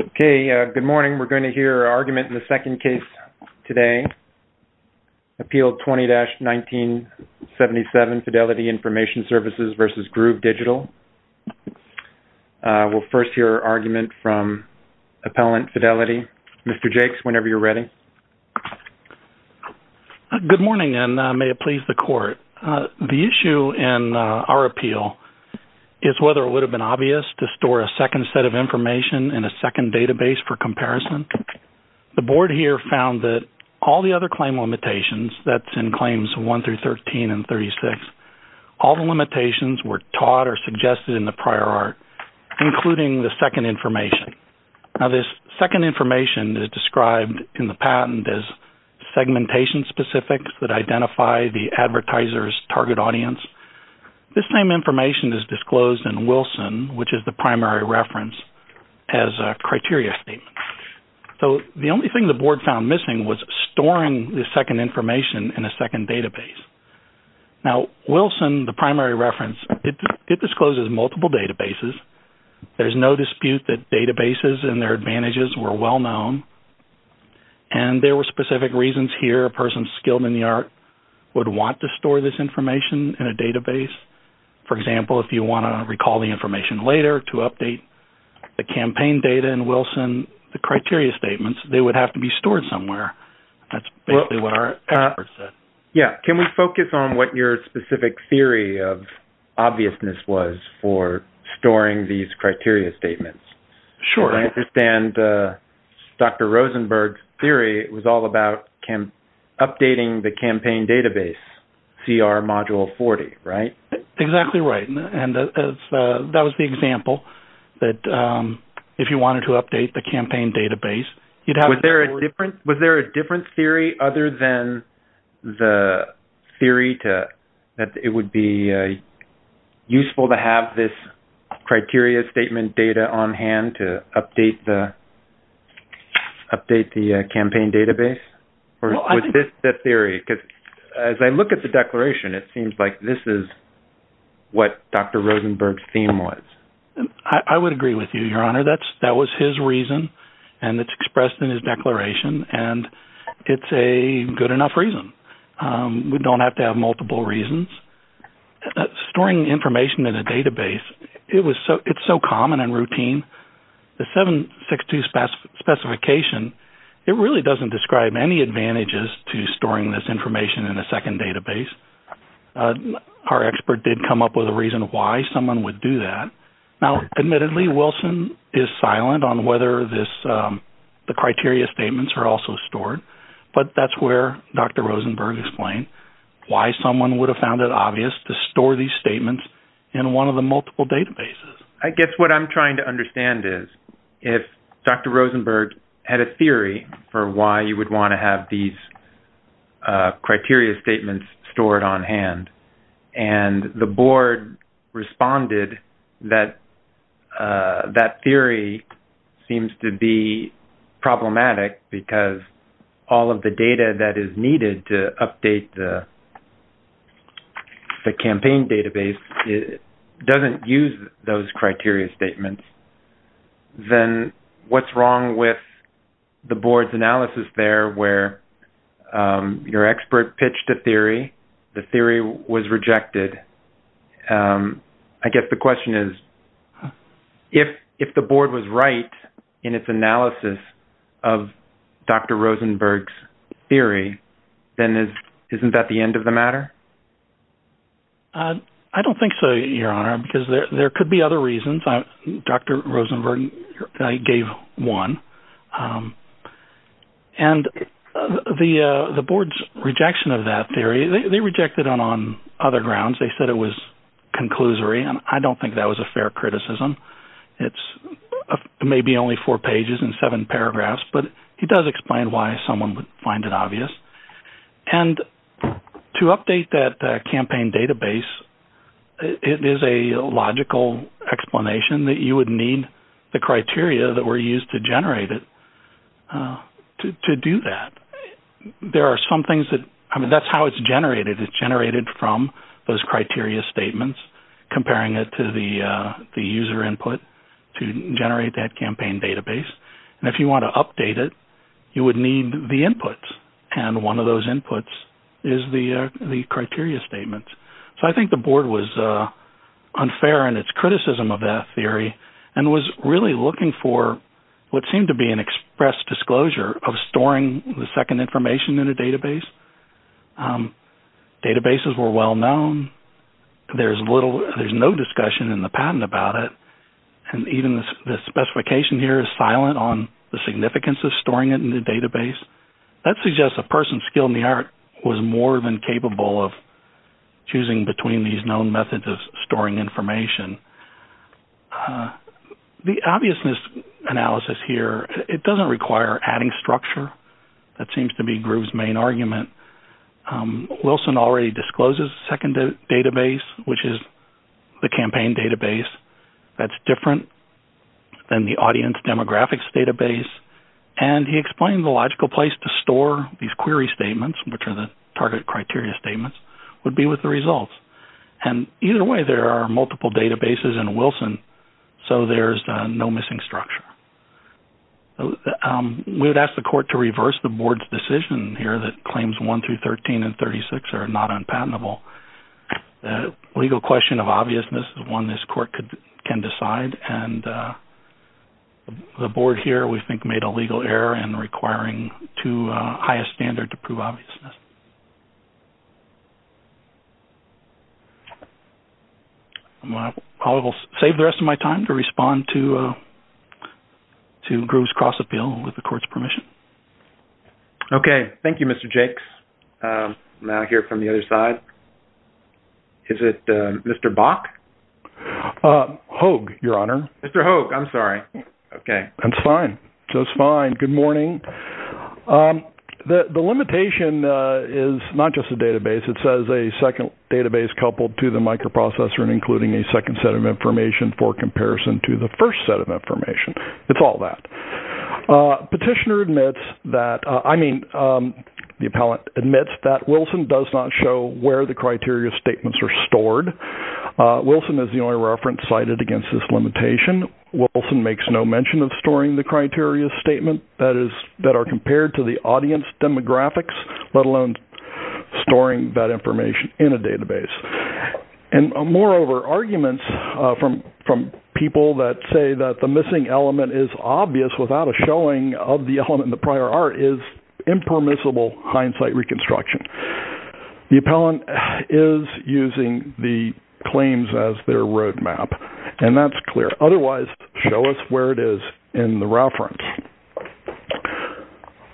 Okay, good morning. We're going to hear our argument in the second case today, Appeal 20-1977, Fidelity Information Services v. Groove Digital. We'll first hear our argument from Appellant Fidelity. Mr. Jakes, whenever you're ready. Good morning, and may it please the Court. The issue in our appeal is whether it would be obvious to store a second set of information in a second database for comparison. The Board here found that all the other claim limitations, that's in Claims 1-13 and 36, all the limitations were taught or suggested in the prior art, including the second information. Now, this second information is described in the patent as segmentation specifics that identify the advertiser's target audience. This same information is disclosed in Wilson, which is the primary reference, as a criteria statement. So, the only thing the Board found missing was storing the second information in a second database. Now, Wilson, the primary reference, it discloses multiple databases. There's no dispute that databases and their advantages were well would want to store this information in a database. For example, if you want to recall the information later to update the campaign data in Wilson, the criteria statements, they would have to be stored somewhere. That's basically what our experts said. Yeah. Can we focus on what your specific theory of obviousness was for storing these criteria database, CR Module 40, right? Exactly right. And that was the example that if you wanted to update the campaign database, you'd have... Was there a different theory other than the theory that it would be useful to have this criteria statement data on hand to update the campaign database? Or was this the theory? As I look at the declaration, it seems like this is what Dr. Rosenberg's theme was. I would agree with you, Your Honor. That was his reason, and it's expressed in his declaration, and it's a good enough reason. We don't have to have multiple reasons. Storing information in a database, it's so common and routine. The 762 specification, it really doesn't describe any advantages to storing this information in a second database. Our expert did come up with a reason why someone would do that. Now, admittedly, Wilson is silent on whether the criteria statements are also stored, but that's where Dr. Rosenberg explained why someone would have found it obvious to store these statements in one of the multiple databases. I guess what I'm trying to understand is if Dr. Rosenberg had a theory for why you would want to have these criteria statements stored on hand, and the board responded that that theory seems to be problematic because all of the data that is needed to update the criteria statements, then what's wrong with the board's analysis there where your expert pitched a theory, the theory was rejected? I guess the question is, if the board was right in its analysis of Dr. Rosenberg's theory, then isn't that the end of the matter? I don't think so, Your Honor, because there could be other reasons. Dr. Rosenberg gave one, and the board's rejection of that theory, they rejected it on other grounds. They said it was conclusory, and I don't think that was a fair criticism. It's maybe only four or five. To update that campaign database, it is a logical explanation that you would need the criteria that were used to generate it to do that. That's how it's generated. It's generated from those criteria statements, comparing it to the user input to generate that campaign database, and if you want to update it, you would need the inputs, and one of those inputs is the criteria statements. So I think the board was unfair in its criticism of that theory, and was really looking for what seemed to be an express disclosure of storing the second information in a database. Databases were well known. There's no discussion in the patent about it, and even the specification here is silent on the significance of storing it in the database. That suggests a person skilled in the art was more than capable of choosing between these known methods of storing information. The obviousness analysis here, it doesn't require adding structure. That seems to be Groove's main argument. Wilson already discloses a second database, which is the campaign database that's different than the audience demographics database, and he explains the logical place to store these query statements, which are the target criteria statements, would be with the results, and either way, there are multiple databases in Wilson, so there's no missing structure. We would ask the court to reverse the board's decision here that claims 1 through 13 and 36 are not unpatentable. The legal question of obviousness is one this court can decide, and the board here, we think, made a legal error in requiring too high a standard to prove obviousness. I'm going to probably save the rest of my time to respond to Groove's cross-appeal with the court's permission. Okay. Thank you, Mr. Jakes. I'm going to hear from the other side. Is it Mr. Bach? Hogue, Your Honor. Mr. Hogue. I'm sorry. Okay. That's fine. Just fine. Good morning. The limitation is not just a database. It says a second database coupled to the microprocessor and including a second set of information for that. Petitioner admits that, I mean, the appellant admits that Wilson does not show where the criteria statements are stored. Wilson is the only reference cited against this limitation. Wilson makes no mention of storing the criteria statement that are compared to the audience demographics, let alone storing that information in a database. Moreover, arguments from people that say that the missing element is obvious without a showing of the element in the prior art is impermissible hindsight reconstruction. The appellant is using the claims as their roadmap, and that's clear. Otherwise, show us where it is in the reference.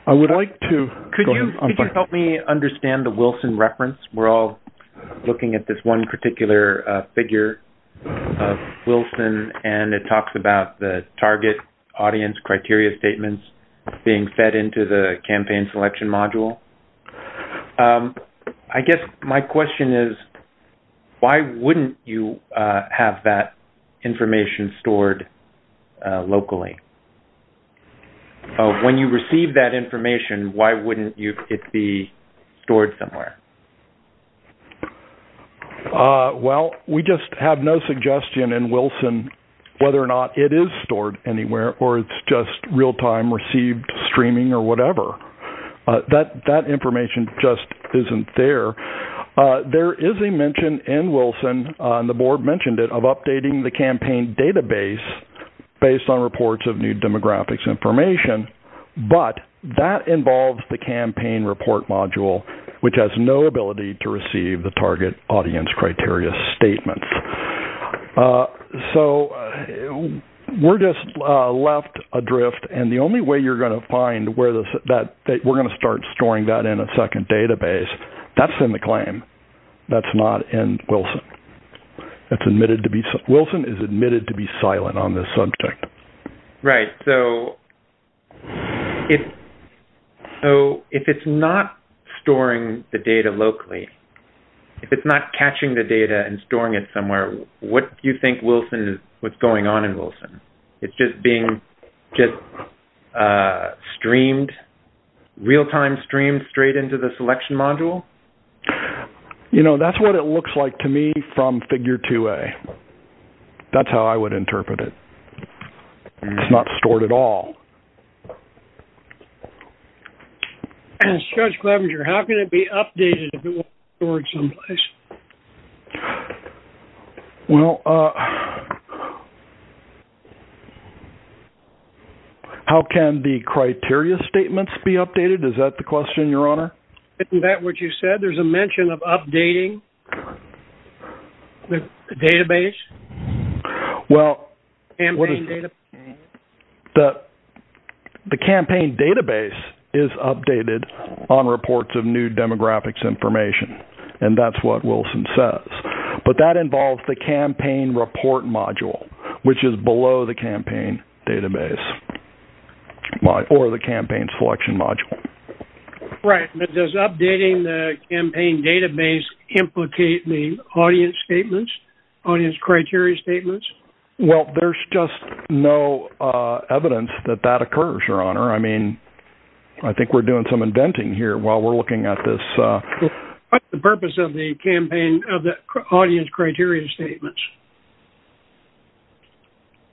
I would like to- Could you help me understand the Wilson reference? We're all looking at this one particular figure of Wilson, and it talks about the target audience criteria statements being fed into the campaign selection module. I guess my question is, why wouldn't you have that information stored locally? When you receive that information, why wouldn't it be stored somewhere? Well, we just have no suggestion in Wilson whether or not it is stored anywhere or it's just real-time received streaming or whatever. That information just isn't there. There is a mention in Wilson, and the board mentioned it, of updating the campaign database based on reports of new demographics information, but that involves the campaign report module, which has no ability to receive the target audience criteria statements. We're just left adrift, and the only way you're going to find where we're going to start storing that in a second database, that's in the claim. That's not in Wilson. Wilson is admitted to be silent on this subject. Right. If it's not storing the data locally, if it's not catching the data and storing it somewhere, what do you think is going on in Wilson? It's just being streamed, real-time streamed straight into the selection module? That's what it looks like to me from Figure 2a. That's how I would interpret it. It's not stored at all. Judge Clevenger, how can it be updated if it wasn't stored someplace? How can the criteria statements be updated? Is that the question, Your Honor? Isn't that what you said? There's a mention of updating the campaign database? The campaign database is updated on reports of new demographics information, and that's what Wilson says, but that involves the campaign report module, which is below the campaign database or the campaign selection module. Right. Does updating the campaign database implicate the audience criteria statements? There's just no evidence that that occurs, Your Honor. I think we're doing some inventing here while we're looking at this. What's the purpose of the audience criteria statements?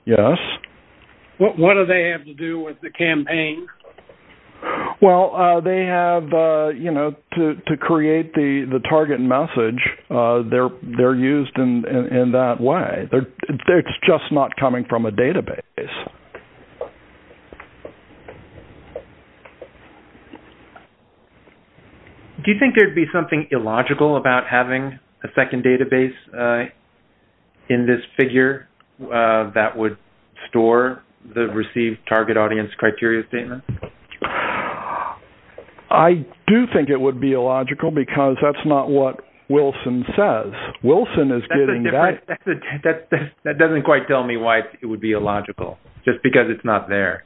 Yes. What do they have to do with the campaign? They have to create the target message. They're used in that way. They're just not coming from a database. Do you think there'd be something illogical about having a second database in this figure that would store the received target audience criteria statement? I do think it would be illogical, because that's not what Wilson says. Wilson is getting that. That doesn't quite tell me why it would be illogical, just because it's not there.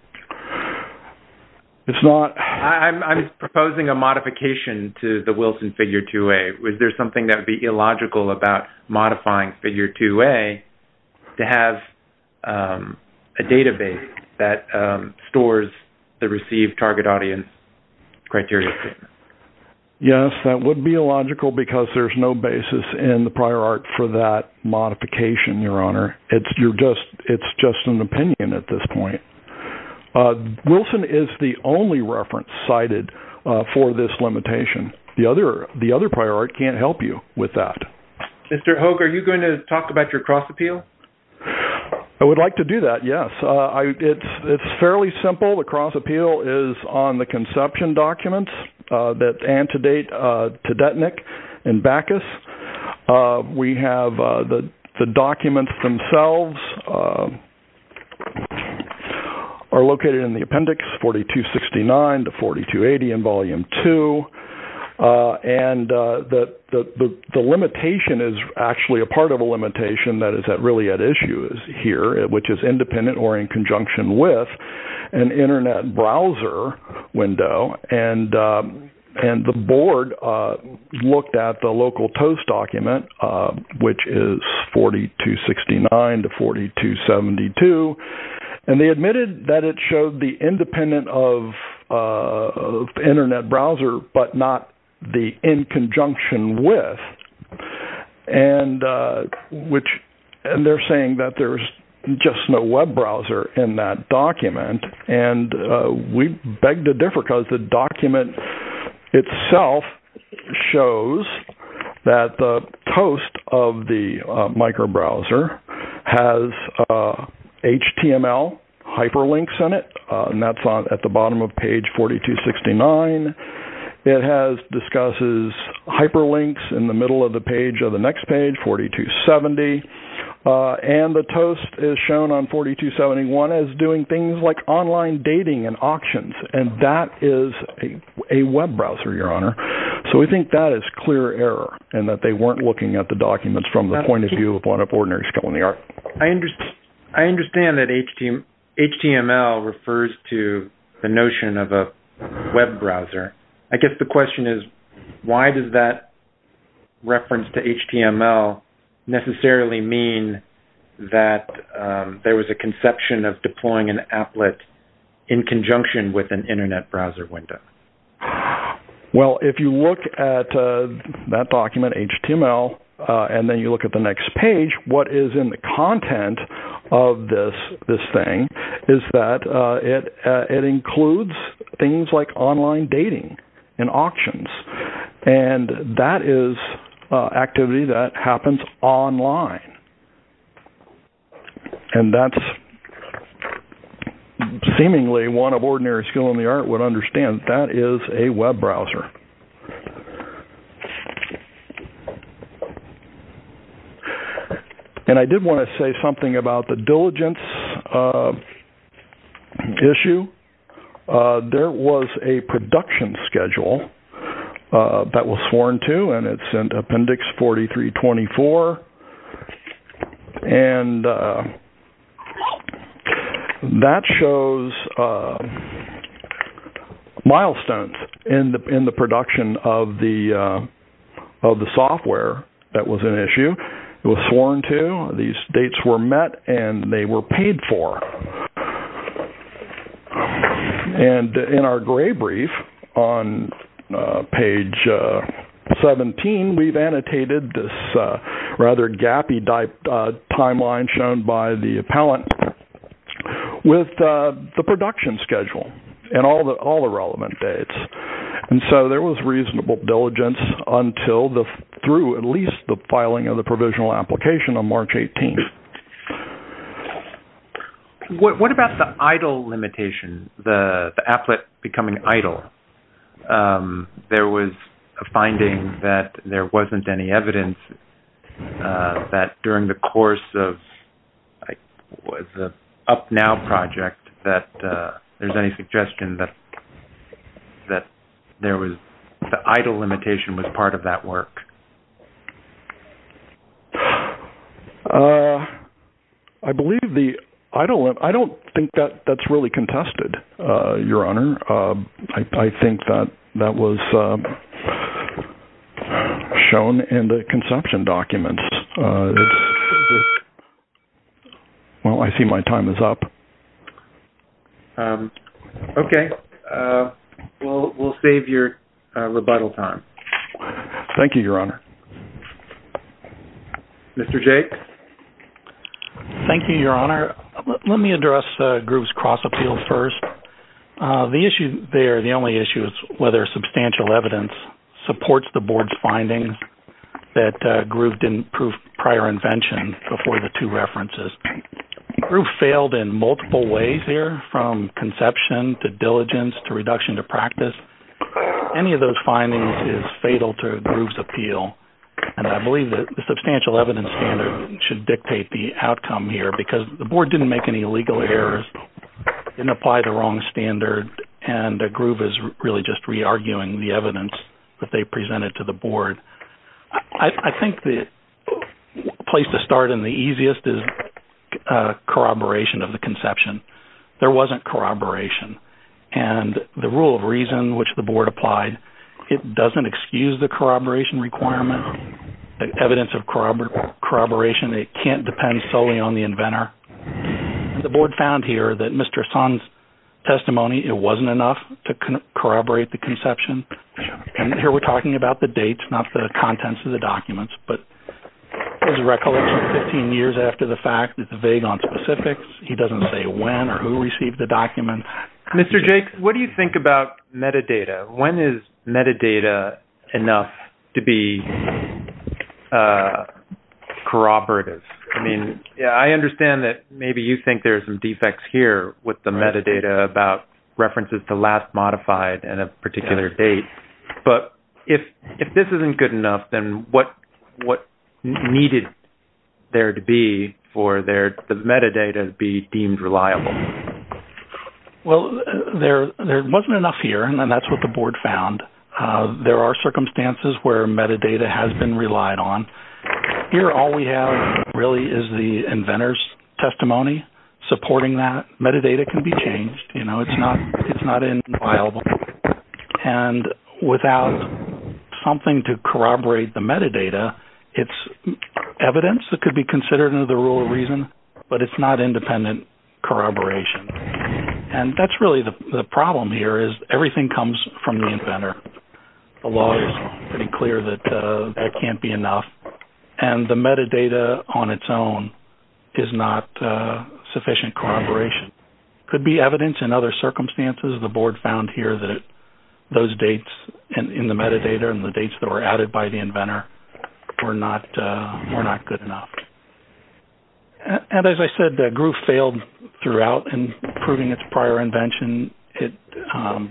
I'm proposing a modification to the Wilson figure 2A. Is there something that would be illogical about modifying figure 2A to have a database that stores the received target audience criteria statement? Yes, that would be illogical, because there's no basis in the prior art for that modification, Your Honor. It's just an opinion at this point. Wilson is the only reference cited for this limitation. The other prior art can't help you with that. Mr. Hogue, are you going to talk about your cross appeal? I would like to do that, yes. It's fairly simple. The cross appeal is on the conception documents that antedate Tedetnik and Backus. We have the documents themselves are located in the appendix 4269 to 4280 in volume 2. The limitation is actually a part of a limitation that is really at issue here, which is independent or in conjunction with an internet browser window. The board looked at the local TOAST document, which is 4269 to 4272. They admitted that it showed the internet browser, but not the in conjunction with. They're saying that there's just no web browser in that document. We beg to differ, because the document itself shows that the TOAST of the micro browser has HTML hyperlinks in it. That's at the bottom of page 4269. It discusses hyperlinks in the middle of the next page, 4270. The TOAST is shown on 4271 as doing things like online dating and auctions. That is a web browser, Your Honor. We think that is clear error and that they weren't looking at the documents from the point of view of one of ordinary scholarly art. I understand that HTML refers to the notion of a web browser. I guess the question is, why does that reference to HTML necessarily mean that there was a conception of deploying an applet in conjunction with an internet browser window? Well, if you look at that document, HTML, and then you look at the next page, what is in the content of this thing is that it includes things like online dating and auctions. That is activity that happens online. That's seemingly one of ordinary scholarly art would understand. That is a web browser. I did want to say something about the diligence issue. There was a production schedule that was sworn to. It is in appendix 4324. That shows milestones in the production of the software that was an issue. It was sworn to. These dates were met and they were paid for. In our gray brief on page 17, we've annotated this gappy timeline shown by the appellant with the production schedule and all the relevant dates. There was reasonable diligence through at least the filing of the provisional application on March 18. What about the idle limitation, the applet becoming idle? There was a finding that there during the course of the UpNow project, there's any suggestion that the idle limitation was part of that work. I don't think that's really contested, Your Honor. I think that was shown in the conception documents. Well, I see my time is up. Okay. We'll save your rebuttal time. Thank you, Your Honor. Mr. Jake? Thank you, Your Honor. Let me address Groove's cross appeal first. The issue there, the only issue is whether substantial evidence supports the board's findings that Groove didn't prove prior invention before the two references. Groove failed in multiple ways here from conception to diligence to reduction to practice. Any of those findings is fatal to Groove's appeal. I believe that the substantial evidence standard should dictate the outcome here because the board didn't make any legal errors, didn't apply the wrong standard, and Groove is really just re-arguing the evidence that they presented to the board. I think the place to start and the easiest is corroboration of the conception. There wasn't corroboration. The rule of reason which the board applied, it doesn't excuse the corroboration requirement. Evidence of corroboration, it can't depend solely on the inventor. The board found here that Mr. Sun's testimony, it wasn't enough to corroborate the conception. And here we're talking about the dates, not the contents of the documents, but his recollection 15 years after the fact is vague on specifics. He doesn't say when or who received the document. Mr. Jake, what do you think about metadata? When is metadata enough to be corroborative? I mean, I understand that maybe you think there are some defects here with the metadata about references to last modified and a particular date, but if this isn't good enough, then what needed there to be for the metadata to be deemed reliable? Well, there wasn't enough here, and that's what the board found. There are circumstances where metadata has been relied on. Here, all we have really is the inventor's testimony supporting that. Metadata can be changed. It's not inviolable. And without something to corroborate the metadata, it's evidence that could be considered under the rule of reason, but it's not independent corroboration. And that's really the problem here is everything comes from the inventor. The law is pretty clear that that can't be enough, and the metadata on its own is not sufficient corroboration. Could be evidence in other circumstances. The board found here that those dates in the metadata and the dates that were added by the inventor were not good enough. And as I said, GRU failed throughout in proving its prior invention. It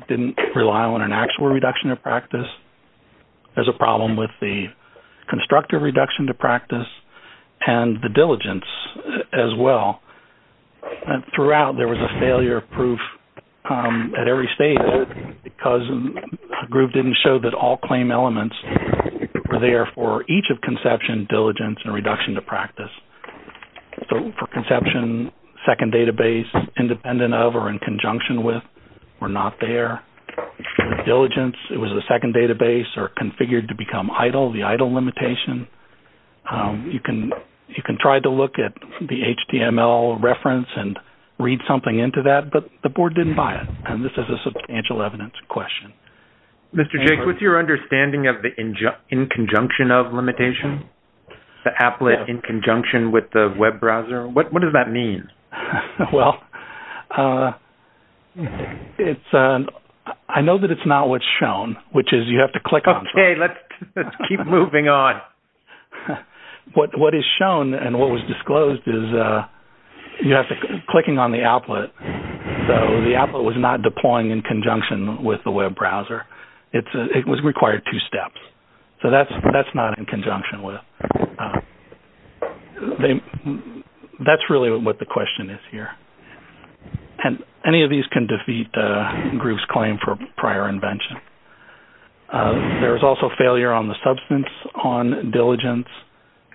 didn't rely on an actual reduction of practice. There's a problem with the constructive reduction to practice and the diligence as well. And throughout, there was a failure of proof at every stage because GRU didn't show that all claim elements were there for each of conception, diligence, and reduction to practice. So for conception, second database, independent of or in conjunction with were not there. Diligence, it was the second database or configured to become idle, the idle limitation. You can try to look at the HTML reference and read something into that, but the board didn't buy it. And this is a substantial evidence question. Mr. Jakes, what's your understanding of the in conjunction of limitation? The applet in conjunction with the web browser? What does that mean? Well, I know that it's not what's shown, which is you have to click on it. Okay, let's keep moving on. What is shown and what was disclosed is you have to click on the applet. So the applet was not So that's not in conjunction with. That's really what the question is here. And any of these can defeat GRU's claim for prior invention. There was also failure on the substance, on diligence,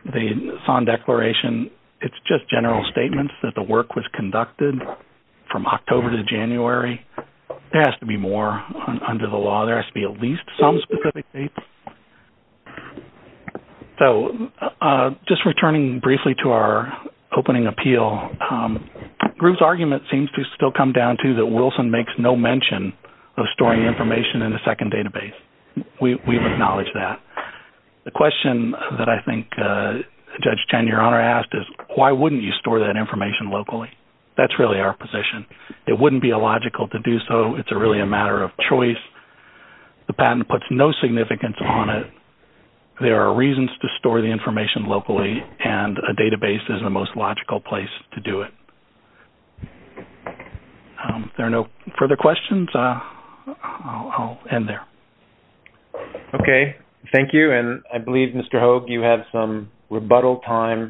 the SON declaration. It's just general statements that the work was conducted from October to January. There has to be more under the law. There has to be at least some specific dates. So just returning briefly to our opening appeal, GRU's argument seems to still come down to that Wilson makes no mention of storing information in a second database. We've acknowledged that. The question that I think Judge Chen, Your Honor, asked is why wouldn't you store that information locally? That's really our position. It wouldn't be illogical to do so. It's really a choice. The patent puts no significance on it. There are reasons to store the information locally and a database is the most logical place to do it. There are no further questions? I'll end there. Okay. Thank you. And I believe, Mr. Hoag, you have some rebuttal time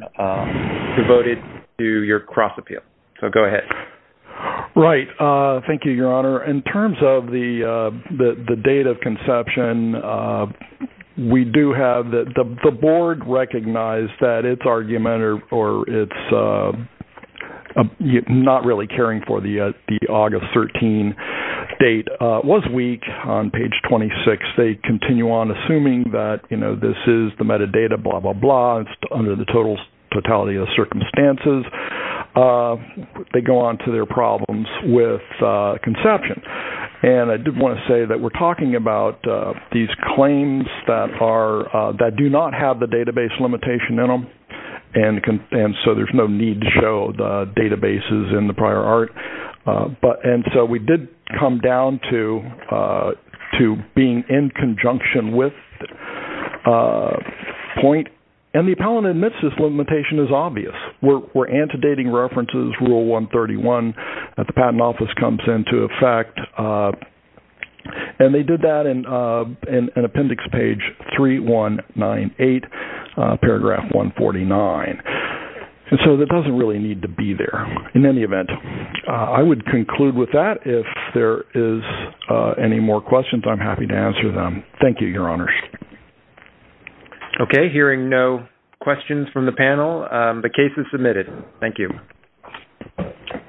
devoted to your cross appeal. So go ahead. Right. Thank you, Your Honor. In terms of the date of conception, the board recognized that its argument or its not really caring for the August 13 date was weak on page 26. They continue on assuming that this is the metadata, blah, blah, blah. It's under the totality of the circumstances. They go on to their problems with conception. And I did want to say that we're talking about these claims that do not have the database limitation in them. And so there's no need to show the databases in the prior art. And so we did come down to being in conjunction with the point. And the appellant admits this limitation is obvious. We're antedating references, rule 131, that the patent office comes into effect. And they did that in appendix page 3198, paragraph 149. And so it doesn't really need to be there. In any event, I would conclude with that. If there is any more questions, I'm happy to answer them. Thank you, Your Honors. Okay. Hearing no questions from the panel, the case is submitted. Thank you.